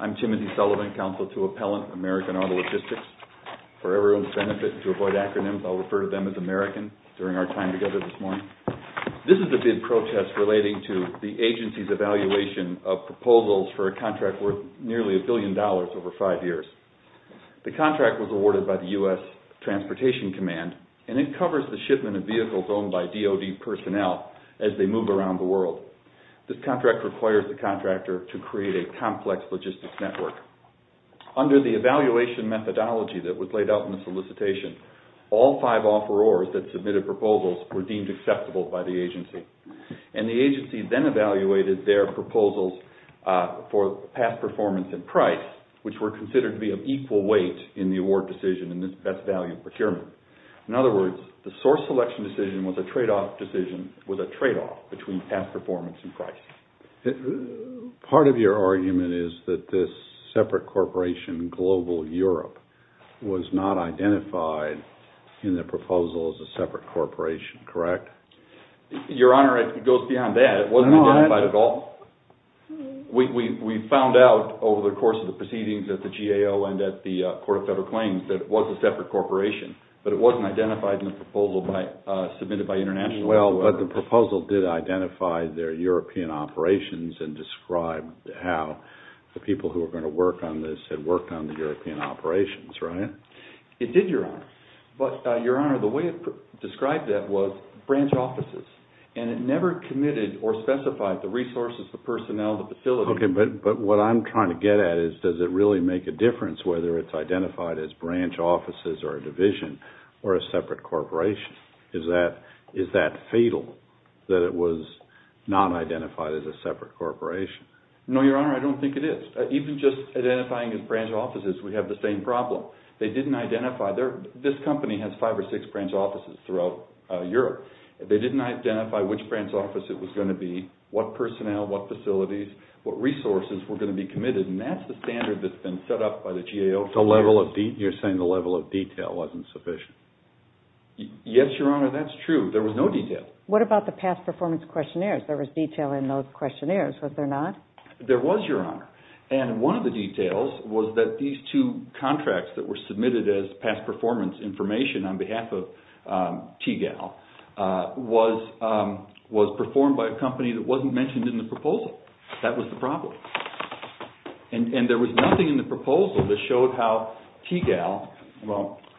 I'm Timothy Sullivan, Counsel to Appellant, American Auto Logistics. For everyone's benefit and to avoid acronyms, I'll refer to them as American during our time together this morning. This is a bid protest relating to the agency's evaluation of proposals for a contract worth nearly a billion dollars over five years. The contract was awarded by the U.S. Transportation Command, and it covers the shipment of vehicles owned by DOD personnel as they move around the world. This contract requires the contractor to create a complex logistics network. Under the evaluation methodology that was laid out in the solicitation, all five offerors that submitted proposals were deemed acceptable by the agency. And the agency then evaluated their proposals for past performance and price, which were considered to be of equal weight in the award decision in this best value procurement. In other words, the past performance and price. Part of your argument is that this separate corporation, Global Europe, was not identified in the proposal as a separate corporation, correct? Your Honor, it goes beyond that. It wasn't identified at all. We found out over the course of the proceedings at the GAO and at the Court of Federal Claims that it was a separate corporation, but it wasn't identified in the proposal submitted by international... Well, but the proposal did identify their European operations and describe how the people who were going to work on this had worked on the European operations, right? It did, Your Honor. But, Your Honor, the way it described that was branch offices, and it never committed or specified the resources, the personnel, the facilities... Okay, but what I'm trying to get at is does it really make a difference whether it's identified as branch offices or a division or a separate corporation? Is that fatal, that it was not identified as a separate corporation? No, Your Honor, I don't think it is. Even just identifying as branch offices, we have the same problem. They didn't identify... This company has five or six branch offices throughout Europe. They didn't identify which branch office it was going to be, what personnel, what facilities, what resources were going to be committed, and that's the standard that's You're saying the level of detail wasn't sufficient. Yes, Your Honor, that's true. There was no detail. What about the past performance questionnaires? There was detail in those questionnaires, was there not? There was, Your Honor, and one of the details was that these two contracts that were submitted as past performance information on behalf of TGAL was performed by a company that wasn't mentioned in the proposal. That was the problem. And there was nothing in the proposal that mentioned how TGAL,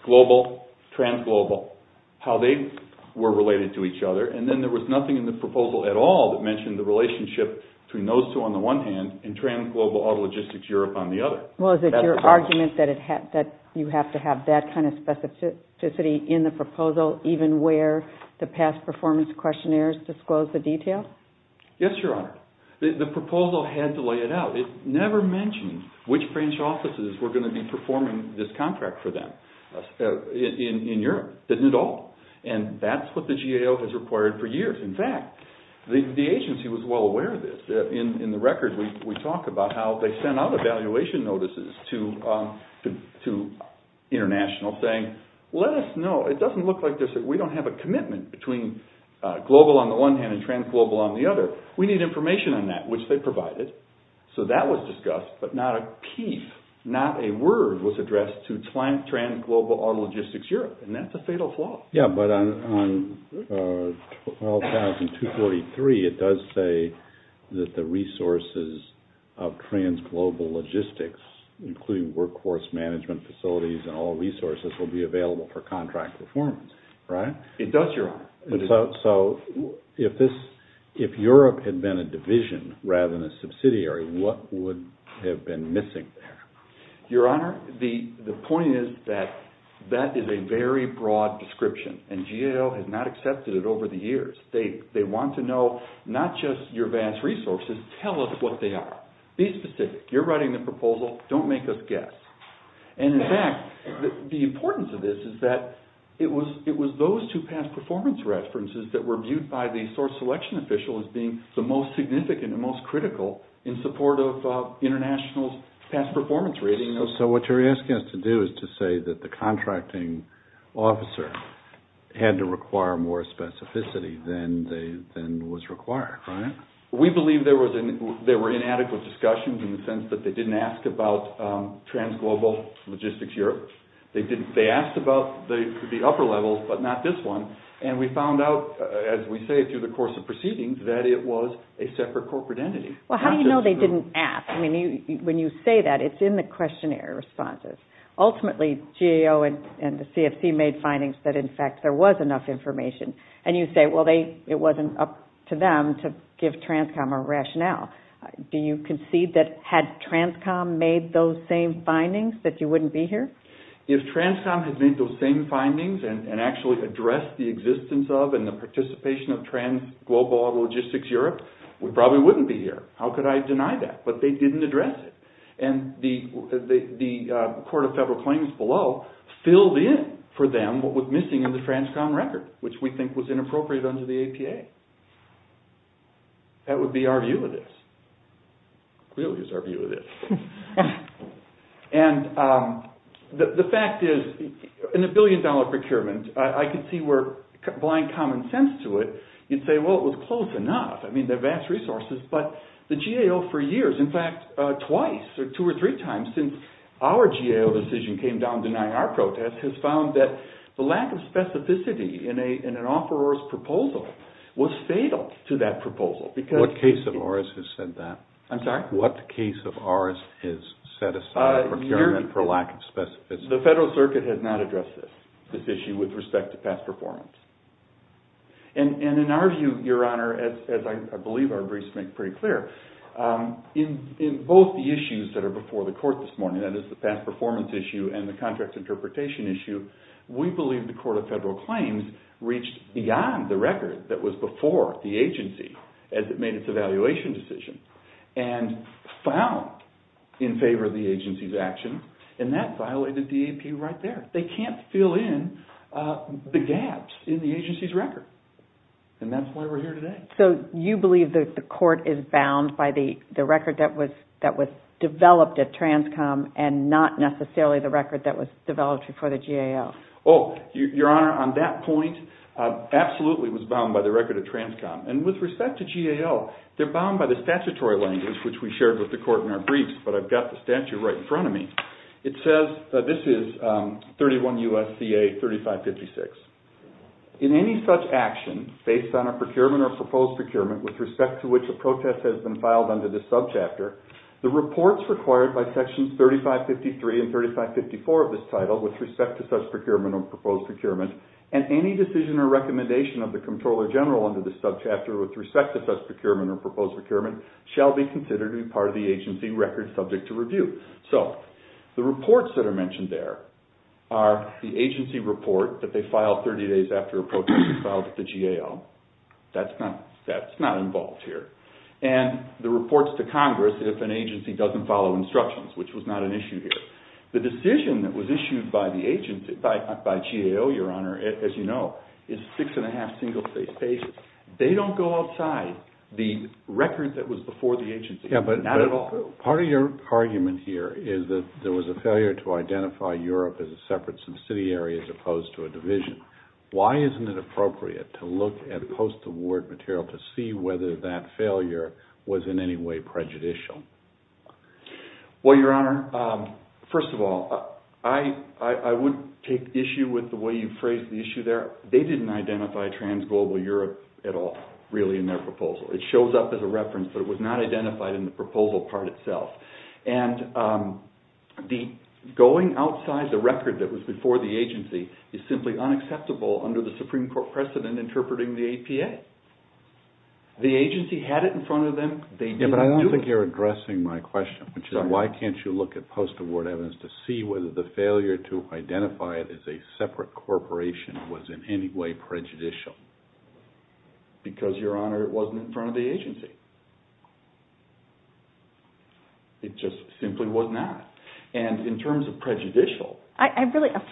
global, trans-global, how they were related to each other, and then there was nothing in the proposal at all that mentioned the relationship between those two on the one hand and trans-global autologistics Europe on the other. Well, is it your argument that you have to have that kind of specificity in the proposal, even where the past performance questionnaires disclose the detail? Yes, Your Honor. The proposal had to lay it out. It never mentioned which branch offices were going to be performing this contract for them in Europe. It didn't at all. And that's what the GAO has required for years. In fact, the agency was well aware of this. In the record, we talk about how they sent out evaluation notices to international saying, let us know. It doesn't look like we don't have a commitment between global on the one hand and trans-global on the other. We need information on that, which they provided. So that was discussed, but not a peep, not a word was addressed to trans-global autologistics Europe. And that's a fatal flaw. Yeah, but on 12,243, it does say that the resources of trans-global logistics, including workforce management facilities and all resources, will be available for contract performance. It does, Your Honor. So if Europe had been a division rather than a subsidiary, what would have been missing there? Your Honor, the point is that that is a very broad description, and GAO has not accepted it over the years. They want to know not just your vast resources, tell us what they are. Be specific. You're writing the proposal. Don't make us guess. And in fact, the importance of this is that it was those two past performance references that were viewed by the source selection official as being the most significant and most critical in support of international's past performance rating. So what you're asking us to do is to say that the contracting officer had to require more specificity than was required, right? We believe there were inadequate discussions in the sense that they didn't ask about trans-global logistics Europe. They asked about the upper levels, but not this one. And we found out, as we say through the course of proceedings, that it was a separate corporate entity. Well, how do you know they didn't ask? I mean, when you say that, it's in the questionnaire responses. Ultimately, GAO and the CFC made findings that, in fact, there was enough information. And you say, well, it wasn't up to them to give TRANSCOM a rationale. Do you concede that had TRANSCOM made those same findings that you wouldn't be here? If TRANSCOM had made those same findings and actually addressed the existence of and the participation of trans-global logistics Europe, we probably wouldn't be here. How could I deny that? But they didn't address it. And the Court of Federal Claims below filled in for them what was missing in the TRANSCOM record, which we think was inappropriate under the APA. That would be our view of this. It really is our view of this. And the fact is, in a billion-dollar procurement, I could see where, blind common sense to it, you'd say, well, it was close enough. I mean, they're vast resources, but the GAO for years, in fact, twice or two or three times since our GAO decision came down denying our protest, has found that the lack of specificity in an offeror's proposal was fatal to that proposal. What case of ours has said that? I'm sorry? What case of ours has set aside procurement for lack of specificity? The Federal Circuit has not addressed this issue with respect to past performance. And in our view, Your Honor, as I believe our briefs make pretty clear, in both the issues that are before the Court this morning, that is the past performance issue and the contract interpretation issue, we believe the Court of Federal Claims reached beyond the record that was before the agency as it made its evaluation decision and found in favor of the agency's action, and that violated DAP right there. They can't fill in the gaps in the agency's record, and that's why we're here today. So you believe that the Court is bound by the record that was developed at TRANSCOM and not necessarily the record that was developed before the GAO? Oh, Your Honor, on that point, absolutely it was bound by the record at TRANSCOM. And with respect to GAO, they're bound by the statutory language, which we shared with the Court in our briefs, but I've got the statute right in front of me. It says that this is 31 U.S.C.A. 3556. In any such action based on a procurement or proposed procurement with respect to which a protest has been filed under this subchapter, the reports required by Sections 3553 and 3554 of this title with respect to such procurement or proposed procurement and any decision or recommendation of the Comptroller General under this subchapter with respect to such procurement or proposed procurement shall be considered to be part of the agency record subject to review. So the reports that are mentioned there are the agency report that they filed 30 days after a protest was filed with the GAO. That's not involved here. And the reports to Congress if an agency doesn't follow instructions, which was not an issue here. The decision that was issued by GAO, Your Honor, as you know, is six and a half single-page pages. They don't go outside the record that was before the agency, not at all. Part of your argument here is that there was a failure to identify Europe as a separate subsidiary as opposed to a division. Why isn't it appropriate to look at post-award material to see whether that failure was in any way prejudicial? Well, Your Honor, first of all, I would take issue with the way you phrased the issue there. They didn't identify trans-global Europe at all really in their proposal. It shows up as a reference, but it was not identified in the proposal part itself. And going outside the record that was before the agency is simply unacceptable under the Supreme Court precedent interpreting the APA. The agency had it in front of them. But I don't think you're addressing my question, which is why can't you look at post-award evidence to see whether the failure to identify it as a separate corporation was in any way prejudicial? Because, Your Honor, it wasn't in front of the agency. It just simply was not. And in terms of prejudicial... I'm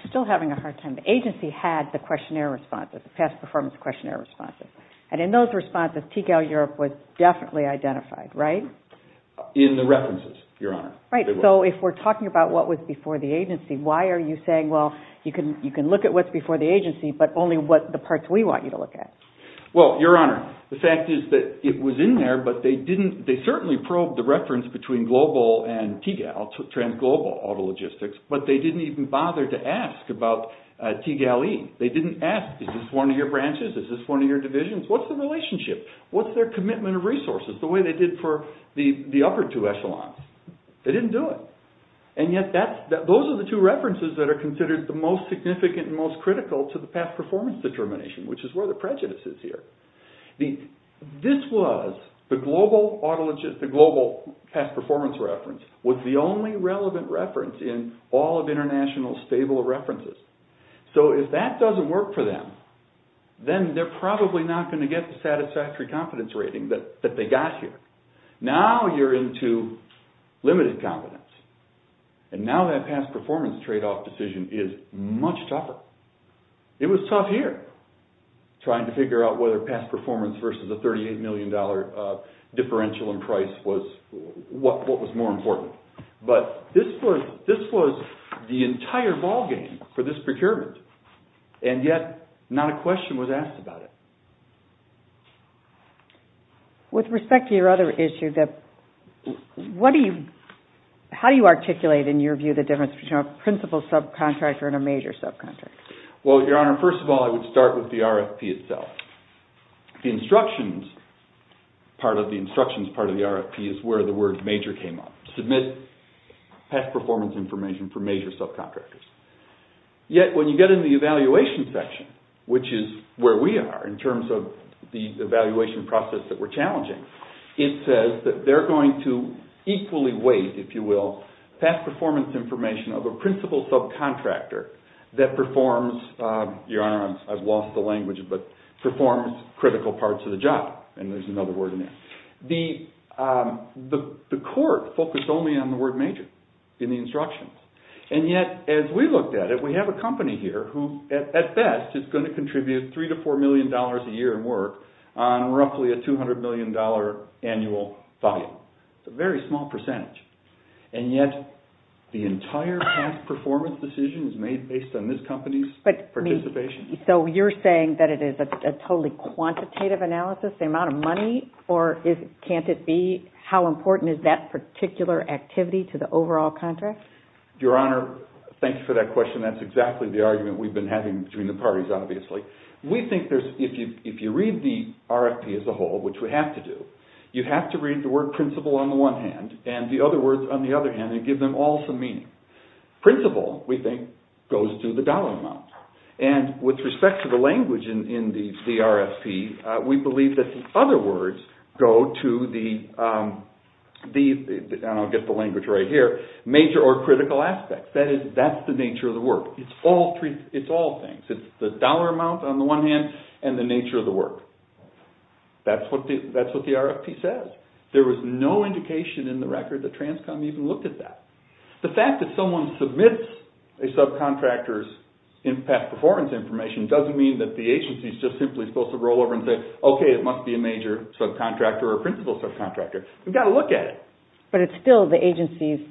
still having a hard time. The agency had the questionnaire responses, the past performance questionnaire responses. And in those responses, TCAO Europe was definitely identified, right? In the references, Your Honor. Right. So if we're talking about what was before the agency, why are you saying, well, you can look at what's before the agency, but only the parts we want you to look at? Well, Your Honor, the fact is that it was in there, but they certainly probed the reference between Global and TGAL, Trans-Global Auto Logistics, but they didn't even bother to ask about TGAL-E. They didn't ask, is this one of your branches? Is this one of your divisions? What's the relationship? What's their commitment of resources, the way they did for the upper two echelons? They didn't do it. And yet, those are the two references that are considered the most significant and most critical to the past performance determination, which is where the prejudice is here. This was, the Global Past Performance Reference, was the only relevant reference in all of international stable references. So if that doesn't work for them, then they're probably not going to get the satisfactory confidence rating that they got here. Now you're into limited confidence, and now that past performance trade-off decision is much tougher. It was tough here, trying to figure out whether past performance versus a $38 million differential in price was, what was more important. But this was the entire ballgame for this procurement, and yet not a question was asked about it. With respect to your other issue, how do you articulate in your view the difference between a principal subcontractor and a major subcontractor? Well, Your Honor, first of all, I would start with the RFP itself. The instructions part of the RFP is where the word major came up. Submit past performance information for major subcontractors. Yet when you get into the evaluation section, which is where we are in terms of the evaluation process that we're challenging, it says that they're going to equally weight, if you will, past performance information of a principal subcontractor that performs, Your Honor, I've lost the language, but performs critical parts of the job, and there's another word in there. The court focused only on the word major in the instructions. And yet, as we looked at it, we have a company here who, at best, is going to contribute $3 to $4 million a year in work on roughly a $200 million annual volume. It's a very small percentage, and yet the entire past performance decision is made based on this company's participation. So you're saying that it is a totally quantitative analysis, the amount of money, or can't it be? How important is that particular activity to the overall contract? Your Honor, thank you for that question. That's exactly the argument we've been having between the parties, obviously. We think if you read the RFP as a whole, which we have to do, you have to read the word principal on the one hand, and the other words on the other hand, and give them all some meaning. Principal, we think, goes to the dollar amount. And with respect to the language in the RFP, we believe that the other words go to the, and I'll get the language right here, major or critical aspects. That's the nature of the work. It's all things. It's the dollar amount on the one hand, and the nature of the work. That's what the RFP says. There was no indication in the record that Transcom even looked at that. The fact that someone submits a subcontractor's past performance information doesn't mean that the agency is just simply supposed to roll over and say, okay, it must be a major subcontractor or principal subcontractor. We've got to look at it. But it's still the agency's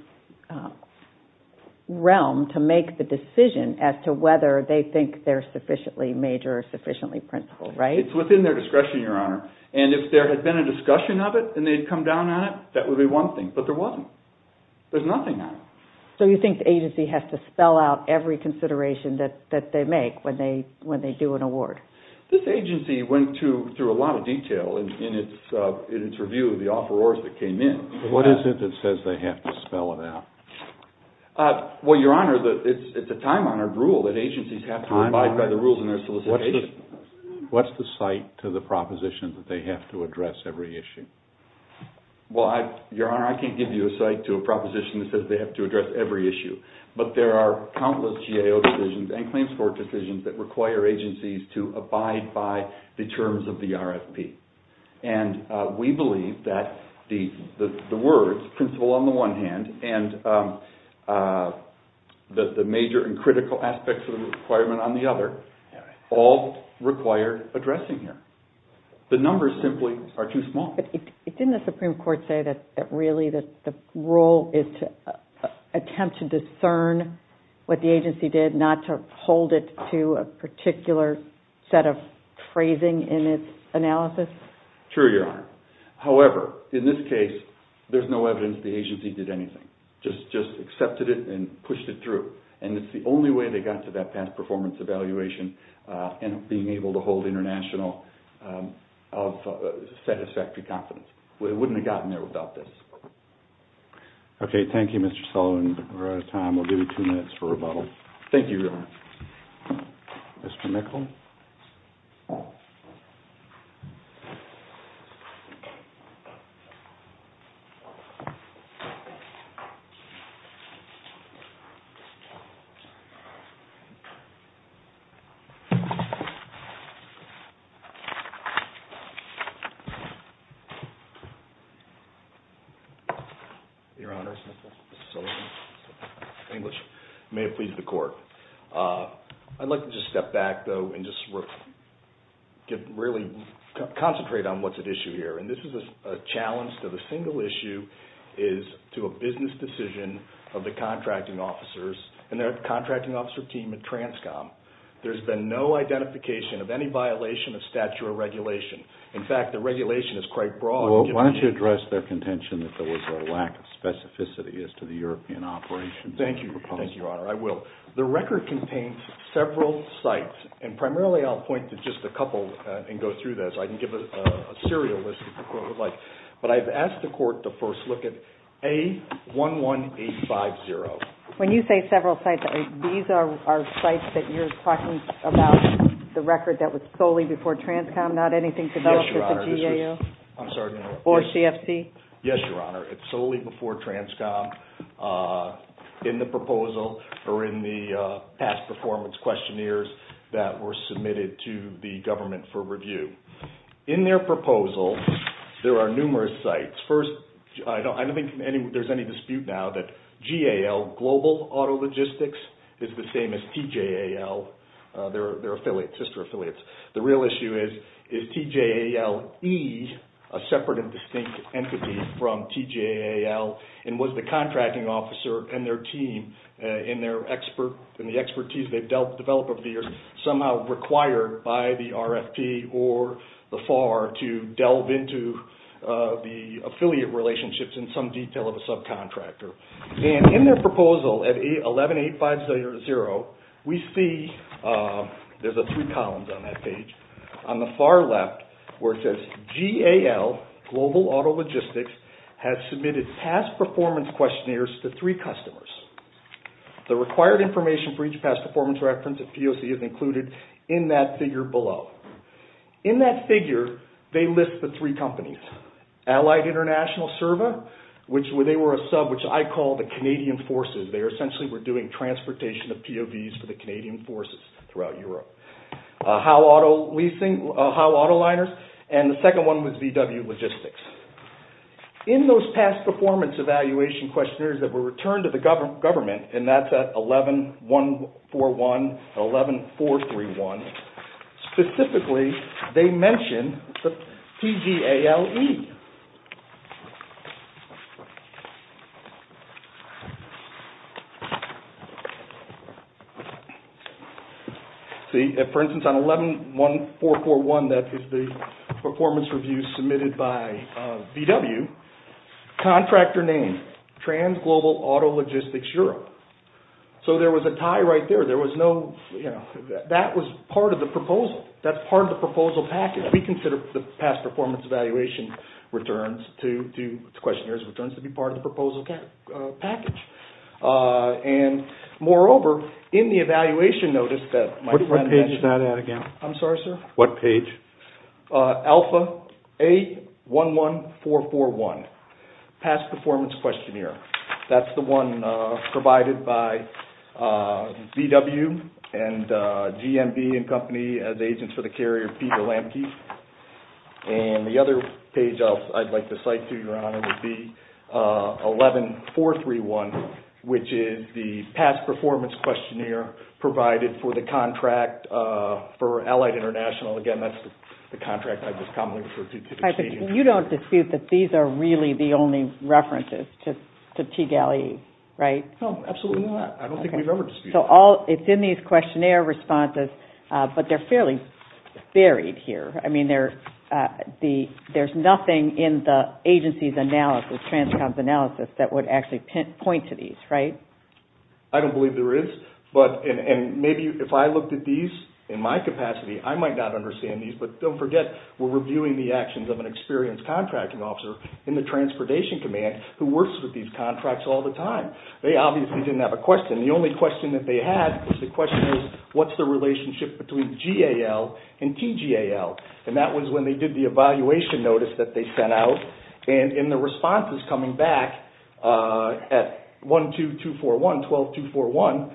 realm to make the decision as to whether they think they're sufficiently major or sufficiently principal, right? It's within their discretion, Your Honor. And if there had been a discussion of it, and they'd come down on it, that would be one thing. But there wasn't. There's nothing on it. So you think the agency has to spell out every consideration that they make when they do an award? This agency went through a lot of detail in its review of the offerors that came in. What is it that says they have to spell it out? Well, Your Honor, it's a time-honored rule that agencies have to abide by the rules in their solicitation. What's the site to the proposition that they have to address every issue? Well, Your Honor, I can't give you a site to a proposition that says they have to address every issue. But there are countless GAO decisions and claims court decisions that require agencies to abide by the terms of the RFP. And we believe that the words principal on the one hand and the major and critical aspects of the requirement on the other all require addressing here. The numbers simply are too small. But didn't the Supreme Court say that really the role is to attempt to discern what the agency did, not to hold it to a particular set of phrasing in its analysis? True, Your Honor. However, in this case, there's no evidence the agency did anything. Just accepted it and pushed it through. And it's the only way they got to that past performance evaluation and being able to hold international satisfactory confidence. It wouldn't have gotten there without this. Okay. Thank you, Mr. Sullivan. We're out of time. We'll give you two minutes for rebuttal. Thank you, Your Honor. Mr. Nichol. Your Honor, Mr. Sullivan, English. May it please the Court. I'd like to just step back, though, and just really concentrate on what's at issue here. And this is a challenge to the single issue is to a business decision of the contracting officers and their contracting officer team at TRANSCOM. There's been no identification of any violation of statute or regulation. In fact, the regulation is quite broad. Well, why don't you address their contention that there was a lack of specificity as to the European operation? Thank you. Thank you, Your Honor. I will. The record contains several sites. And primarily I'll point to just a couple and go through those. I can give a serial list if the Court would like. But I've asked the Court to first look at A11850. When you say several sites, these are sites that you're talking about the record that was solely before TRANSCOM, not anything to do with the GAO? Yes, Your Honor. I'm sorry. Or CFC? Yes, Your Honor. It's solely before TRANSCOM in the proposal or in the past performance questionnaires that were submitted to the government for review. In their proposal, there are numerous sites. First, I don't think there's any dispute now that GAL, Global Auto Logistics, is the same as TJAL. They're affiliates, sister affiliates. The real issue is, is TJAL-E a separate and distinct entity from TJAL? And was the contracting officer and their team, in the expertise they've developed over the years, somehow required by the RFP or the FAR to delve into the affiliate relationships in some detail of a subcontractor? And in their proposal at A11850, we see, there's three columns on that page. On the far left where it says, GAL, Global Auto Logistics, has submitted past performance questionnaires to three customers. The required information for each past performance reference at POC is included in that figure below. In that figure, they list the three companies. Allied International Serva, which they were a sub, which I call the Canadian Forces. They essentially were doing transportation of POVs for the Canadian Forces throughout Europe. Howe Auto Leasing, Howe Auto Liners, and the second one was VW Logistics. In those past performance evaluation questionnaires that were returned to the government, and that's at 11141 and 11431, specifically, they mention the TGALE. See, for instance, on 111441, that is the performance review submitted by VW, contractor name, Transglobal Auto Logistics Europe. So there was a tie right there. That was part of the proposal. That's part of the proposal package. We consider the past performance evaluation questionnaires returns to be part of the proposal package. And moreover, in the evaluation notice that my friend mentioned... What page is that at again? I'm sorry, sir? What page? Alpha A11441, past performance questionnaire. That's the one provided by VW and GMB and company as agents for the carrier Peter Lamke. And the other page I'd like to cite to you, Your Honor, would be 11431, which is the past performance questionnaire provided for the contract for Allied International. Again, that's the contract I just commonly refer to. You don't dispute that these are really the only references to TGALE, right? No, absolutely not. I don't think we've ever disputed that. So it's in these questionnaire responses, but they're fairly buried here. I mean, there's nothing in the agency's analysis, Transcom's analysis that would actually point to these, right? I don't believe there is. And maybe if I looked at these in my capacity, I might not understand these. But don't forget, we're reviewing the actions of an experienced contracting officer in the Transportation Command who works with these contracts all the time. They obviously didn't have a question. The only question that they had was the question, what's the relationship between GAL and TGAL? And that was when they did the evaluation notice that they sent out. And in the responses coming back at 12241, 12241,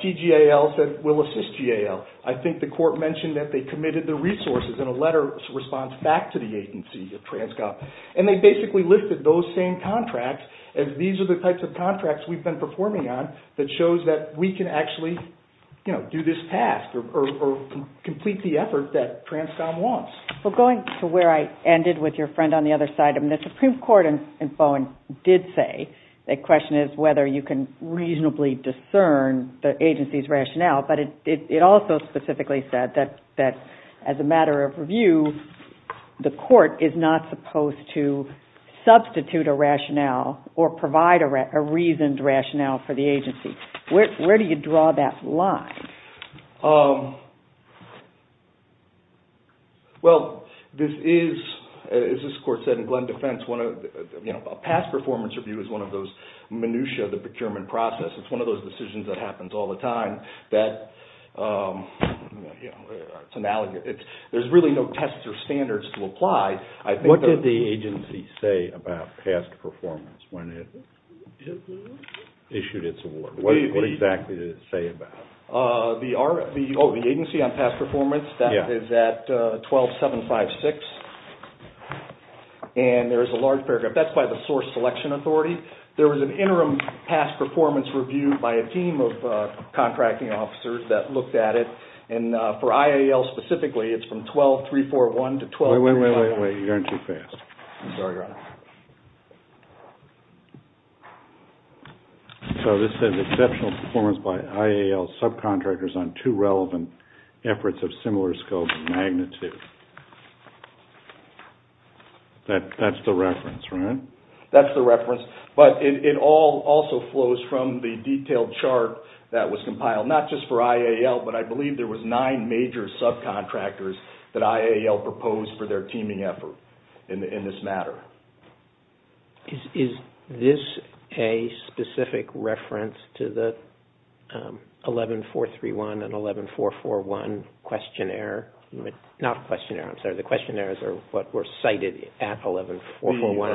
TGAL said, we'll assist GAL. I think the court mentioned that they committed the resources in a letter response back to the agency of Transcom. And they basically listed those same contracts as these are the types of contracts we've been performing on that shows that we can actually do this task or complete the effort that Transcom wants. Well, going to where I ended with your friend on the other side, the Supreme Court in Bowen did say the question is whether you can reasonably discern the agency's rationale. But it also specifically said that as a matter of review, the court is not supposed to substitute a rationale or provide a reasoned rationale for the agency. Where do you draw that line? Well, this is, as this court said in Glenn Defense, a past performance review is one of those minutiae of the procurement process. It's one of those decisions that happens all the time. There's really no tests or standards to apply. What did the agency say about past performance when it issued its award? What exactly did it say about it? The agency on past performance is at 12756. And there is a large paragraph. That's by the Source Selection Authority. There was an interim past performance review by a team of contracting officers that looked at it. And for IAL specifically, it's from 12341 to 12351. Wait, wait, wait, you're on too fast. I'm sorry, Your Honor. So this says exceptional performance by IAL subcontractors on two relevant efforts of similar scope and magnitude. That's the reference, right? That's the reference. But it all also flows from the detailed chart that was compiled, not just for IAL, but I believe there was nine major subcontractors that IAL proposed for their teaming effort in this matter. Is this a specific reference to the 11431 and 11441 questionnaire? Not a questionnaire, I'm sorry. The questionnaires are what were cited at 11441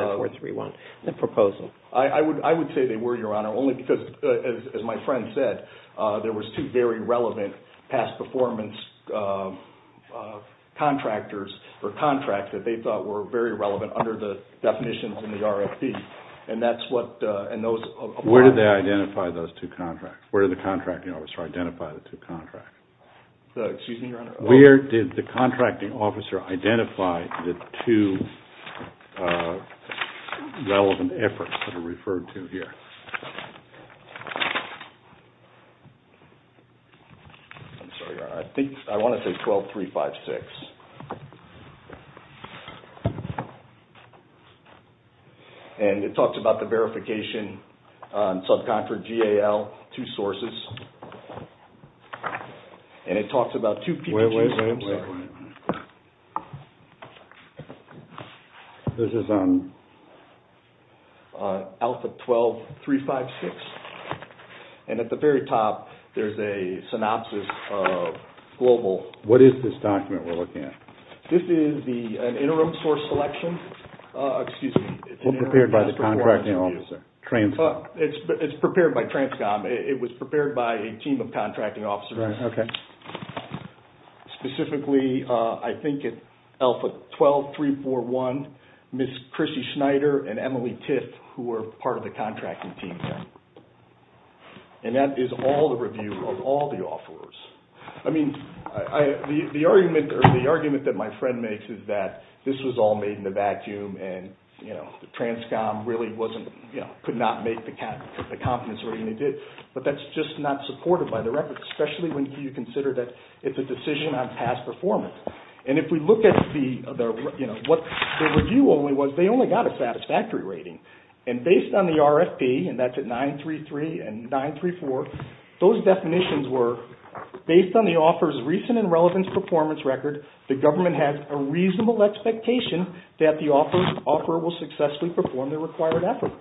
and 11431, the proposal. I would say they were, Your Honor, only because, as my friend said, there was two very relevant past performance contractors or contracts that they thought were very relevant under the definitions in the RFP. And that's what, and those. Where did they identify those two contracts? Excuse me, Your Honor. Where did the contracting officer identify the two relevant efforts that are referred to here? I'm sorry, Your Honor. I want to say 12356. And it talks about the verification subcontractor, GAL, two sources. And it talks about two people. Wait, wait a second. This is on? Alpha 12356. And at the very top, there's a synopsis of global. What is this document we're looking at? This is an interim source selection. Excuse me. Prepared by the contracting officer. Transcom. It's prepared by Transcom. It was prepared by a team of contracting officers. Right, okay. Specifically, I think it's Alpha 12341, Ms. Chrissy Schneider, and Emily Tiff, who were part of the contracting team. And that is all the review of all the offers. I mean, the argument that my friend makes is that this was all made in a vacuum, and Transcom really could not make the confidence rating they did. But that's just not supported by the record, especially when you consider that it's a decision on past performance. And if we look at what the review only was, they only got a satisfactory rating. And based on the RFP, and that's at 933 and 934, those definitions were, based on the offer's recent and relevant performance record, the government has a reasonable expectation that the offer will successfully perform the required effort.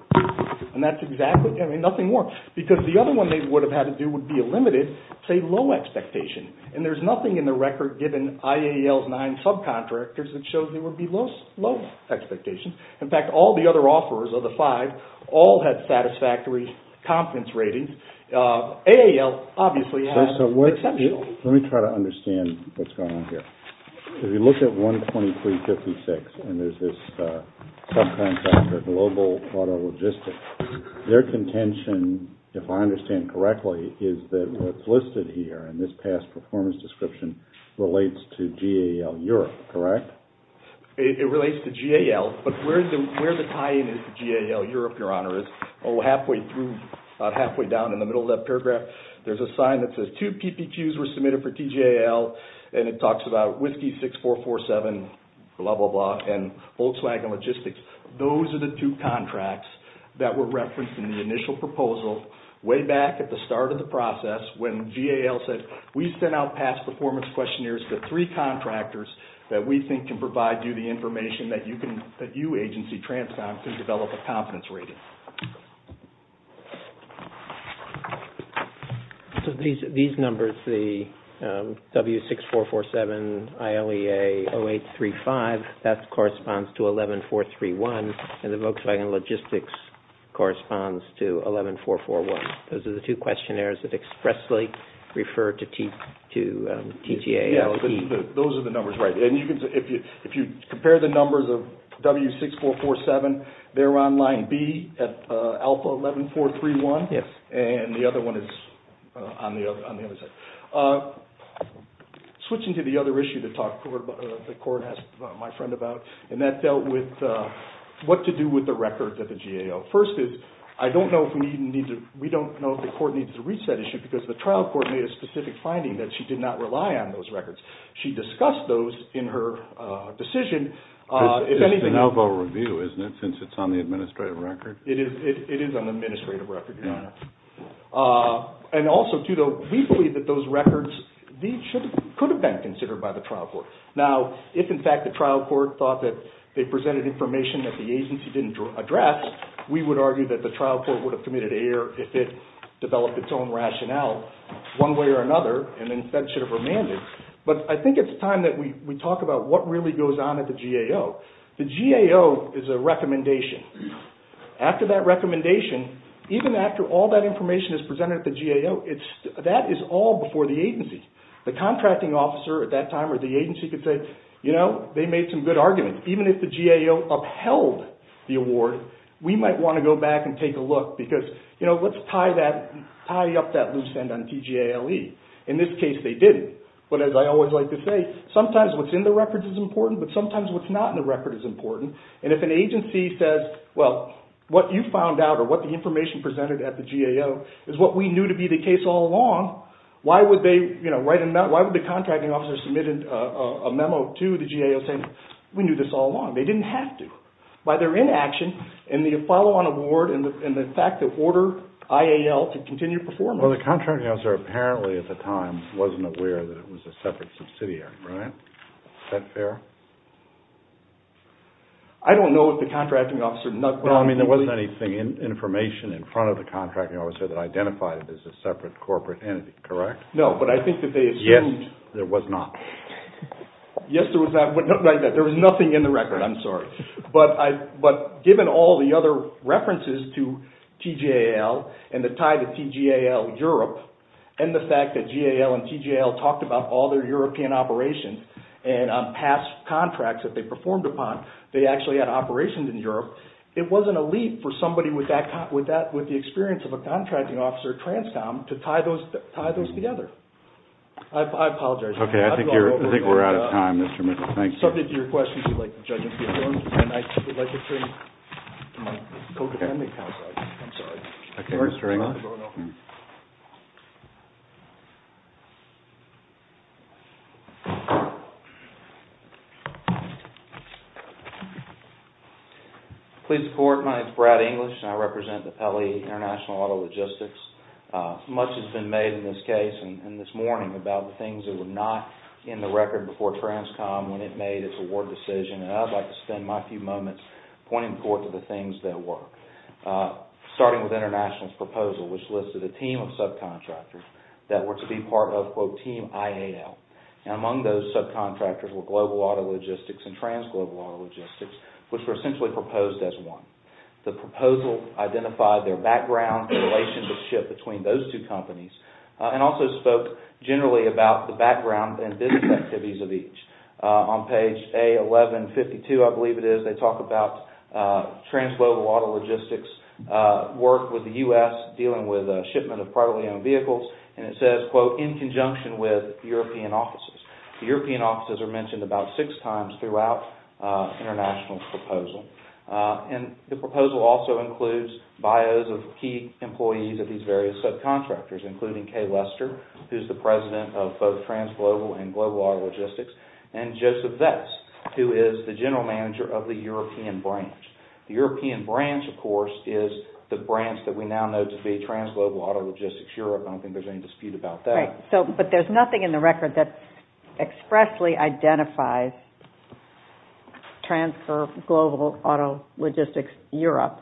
And that's exactly, I mean, nothing more. Because the other one they would have had to do would be a limited, say, low expectation. And there's nothing in the record given IAEL's nine subcontractors that shows there would be low expectations. In fact, all the other offerors of the five all had satisfactory confidence ratings. AAL obviously had exceptional. Let me try to understand what's going on here. If you look at 123.56, and there's this subcontractor, Global Auto Logistics, their contention, if I understand correctly, is that what's listed here in this past performance description relates to GAL Europe, correct? It relates to GAL. But where the tie-in is to GAL Europe, Your Honor, is about halfway down in the middle of that paragraph. There's a sign that says two PPQs were submitted for TGAL, and it talks about Whiskey 6447, blah, blah, blah, and Volkswagen Logistics. Those are the two contracts that were referenced in the initial proposal way back at the start of the process when GAL said, we sent out past performance questionnaires to three contractors that we think can provide you the information that you agency, Transcom, can develop a confidence rating. So these numbers, the W6447, ILEA 0835, that corresponds to 11431, and the Volkswagen Logistics corresponds to 11441. Those are the two questionnaires that expressly refer to TGAL. Those are the numbers, right. If you compare the numbers of W6447, they're on line B at alpha 11431, and the other one is on the other side. Switching to the other issue that the court asked my friend about, and that dealt with what to do with the records of the GAL. First is, I don't know if we need to, we don't know if the court needs to reach that issue because the trial court made a specific finding that she did not rely on those records. She discussed those in her decision. It's an elbow review, isn't it, since it's on the administrative record? It is on the administrative record, Your Honor. And also, too, though, we believe that those records could have been considered by the trial court. Now, if in fact the trial court thought that they presented information that the agency didn't address, we would argue that the trial court would have committed error if it developed its own rationale one way or another, and instead should have remanded. But I think it's time that we talk about what really goes on at the GAO. The GAO is a recommendation. After that recommendation, even after all that information is presented at the GAO, that is all before the agency. The contracting officer at that time or the agency could say, you know, they made some good arguments. Even if the GAO upheld the award, we might want to go back and take a look because, you know, let's tie up that loose end on TGALE. In this case, they didn't. But as I always like to say, sometimes what's in the records is important, but sometimes what's not in the record is important. And if an agency says, well, what you found out or what the information presented at the GAO is what we knew to be the case all along, why would they, you know, write a memo, why would the contracting officer submit a memo to the GAO saying we knew this all along? They didn't have to. By their inaction and the follow-on award and the fact that order IAL to continue performing. Well, the contracting officer apparently at the time wasn't aware that it was a separate subsidiary, right? Is that fair? I don't know if the contracting officer... No, I mean, there wasn't any information in front of the contracting officer that identified it as a separate corporate entity, correct? No, but I think that they assumed... Yes, there was not. Yes, there was not. There was nothing in the record, I'm sorry. But given all the other references to TGAL and the tie to TGAL Europe and the fact that GAL and TGAL talked about all their European operations and on past contracts that they performed upon, they actually had operations in Europe, it wasn't a leap for somebody with the experience of a contracting officer transcom to tie those together. I apologize. Okay, I think we're out of time, Mr. Mitchell. Subject to your questions, we'd like the judges to be adjourned. And I would like to turn to my co-defendant, counsel. I'm sorry. Okay, Mr. English. Please report. My name is Brad English and I represent the Pele International Auto Logistics. Much has been made in this case and this morning about the things that were not in the record before transcom when it made its award decision. And I'd like to spend my few moments pointing forth to the things that were. Starting with International's proposal, which listed a team of subcontractors that were to be part of, quote, team IAL. And among those subcontractors were Global Auto Logistics and Transglobal Auto Logistics, which were essentially proposed as one. The proposal identified their background and relationship between those two companies and also spoke generally about the background and business activities of each. On page A1152, I believe it is, they talk about Transglobal Auto Logistics' work with the U.S. dealing with shipment of privately owned vehicles. And it says, quote, in conjunction with European offices. And the proposal also includes bios of key employees of these various subcontractors, including Kay Lester, who's the president of both Transglobal and Global Auto Logistics, and Joseph Vest, who is the general manager of the European branch. The European branch, of course, is the branch that we now know to be Transglobal Auto Logistics Europe. I don't think there's any dispute about that. But there's nothing in the record that expressly identifies Transglobal Auto Logistics Europe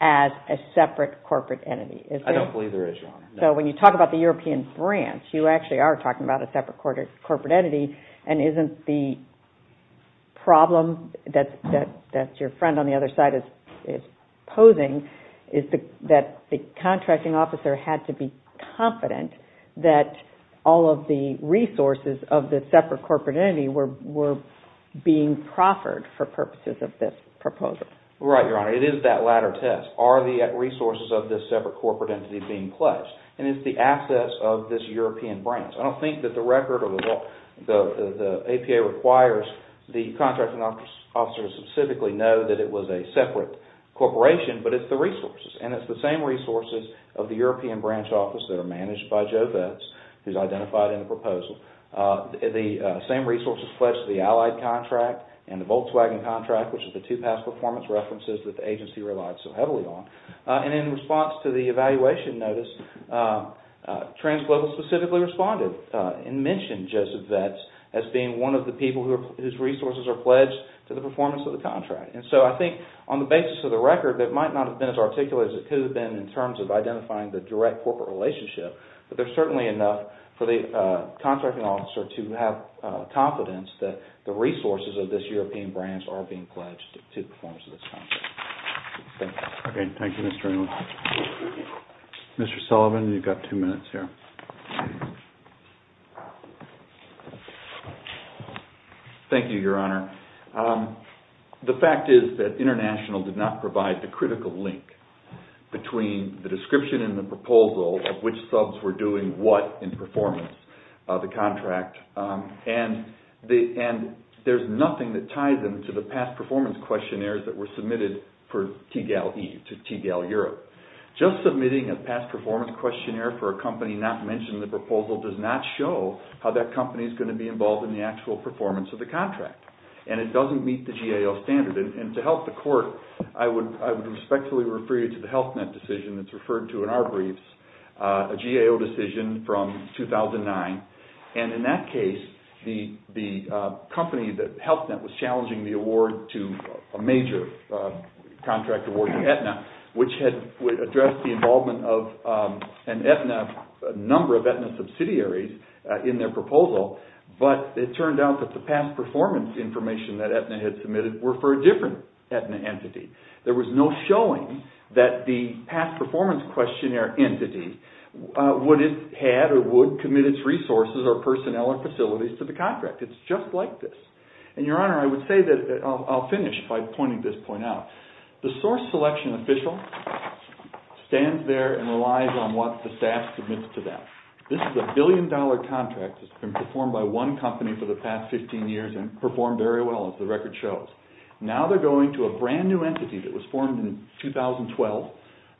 as a separate corporate entity. I don't believe there is. So when you talk about the European branch, you actually are talking about a separate corporate entity. And isn't the problem that your friend on the other side is posing is that the contracting officer had to be confident that all of the resources of the separate corporate entity were being proffered for purposes of this proposal. Right, Your Honor. It is that latter test. Are the resources of this separate corporate entity being pledged? And is the access of this European branch? I don't think that the record or the APA requires the contracting officer to specifically know that it was a separate corporation. But it's the resources. And it's the same resources of the European branch office that are managed by Joe Vets, who's identified in the proposal. The same resources pledged to the Allied contract and the Volkswagen contract, which is the two past performance references that the agency relied so heavily on. And in response to the evaluation notice, Transglobal specifically responded and mentioned Joseph Vets as being one of the people whose resources are pledged to the performance of the contract. And so I think on the basis of the record, that might not have been as articulate as it could have been in terms of identifying the direct corporate relationship. But there's certainly enough for the contracting officer to have confidence that the resources of this European branch are being pledged to the performance of this contract. Thank you. Okay. Thank you, Mr. England. Mr. Sullivan, you've got two minutes here. Thank you, Your Honor. The fact is that International did not provide the critical link between the description in the proposal of which subs were doing what in performance of the contract. And there's nothing that ties them to the past performance questionnaires that were submitted for TGAL-E to TGAL-Europe. Just submitting a past performance questionnaire for a company not mentioned in the proposal does not show how that company is going to be involved in the actual performance of the contract. And it doesn't meet the GAO standard. And to help the Court, I would respectfully refer you to the Health Net decision that's referred to in our briefs, a GAO decision from 2009. And in that case, the company, the Health Net, was challenging the award to a major contract award to Aetna, which had addressed the involvement of a number of Aetna subsidiaries in their proposal. But it turned out that the past performance information that Aetna had submitted were for a different Aetna entity. There was no showing that the past performance questionnaire entity would have had or would commit its resources or personnel or facilities to the contract. It's just like this. And, Your Honor, I would say that I'll finish by pointing this point out. The source selection official stands there and relies on what the staff submits to them. This is a billion-dollar contract that's been performed by one company for the past 15 years and performed very well, as the record shows. Now they're going to a brand-new entity that was formed in 2012.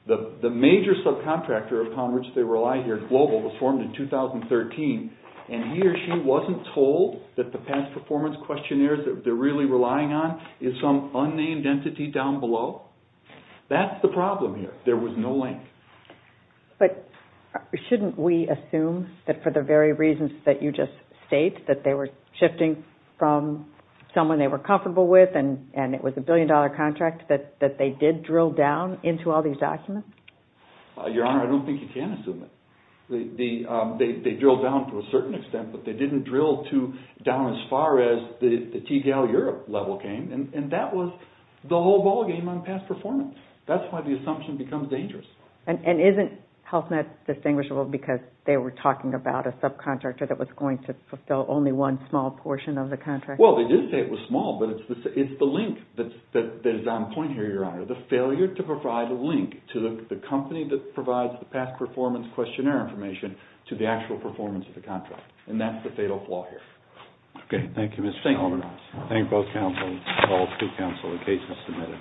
The major subcontractor upon which they rely here at Global was formed in 2013. And he or she wasn't told that the past performance questionnaire that they're really relying on is some unnamed entity down below. That's the problem here. There was no link. But shouldn't we assume that for the very reasons that you just state, that they were shifting from someone they were comfortable with, and it was a billion-dollar contract, that they did drill down into all these documents? Your Honor, I don't think you can assume it. They drilled down to a certain extent, but they didn't drill down as far as the TGAL Europe level came. And that was the whole ballgame on past performance. That's why the assumption becomes dangerous. And isn't HealthNet distinguishable because they were talking about a subcontractor that was going to fulfill only one small portion of the contract? Well, they did say it was small, but it's the link that is on point here, Your Honor, the failure to provide a link to the company that provides the past performance questionnaire information to the actual performance of the contract. And that's the fatal flaw here. Okay, thank you, Mr. Solomonoff. Thank you. Thank you, both counsels, all two counsel, the case has submitted.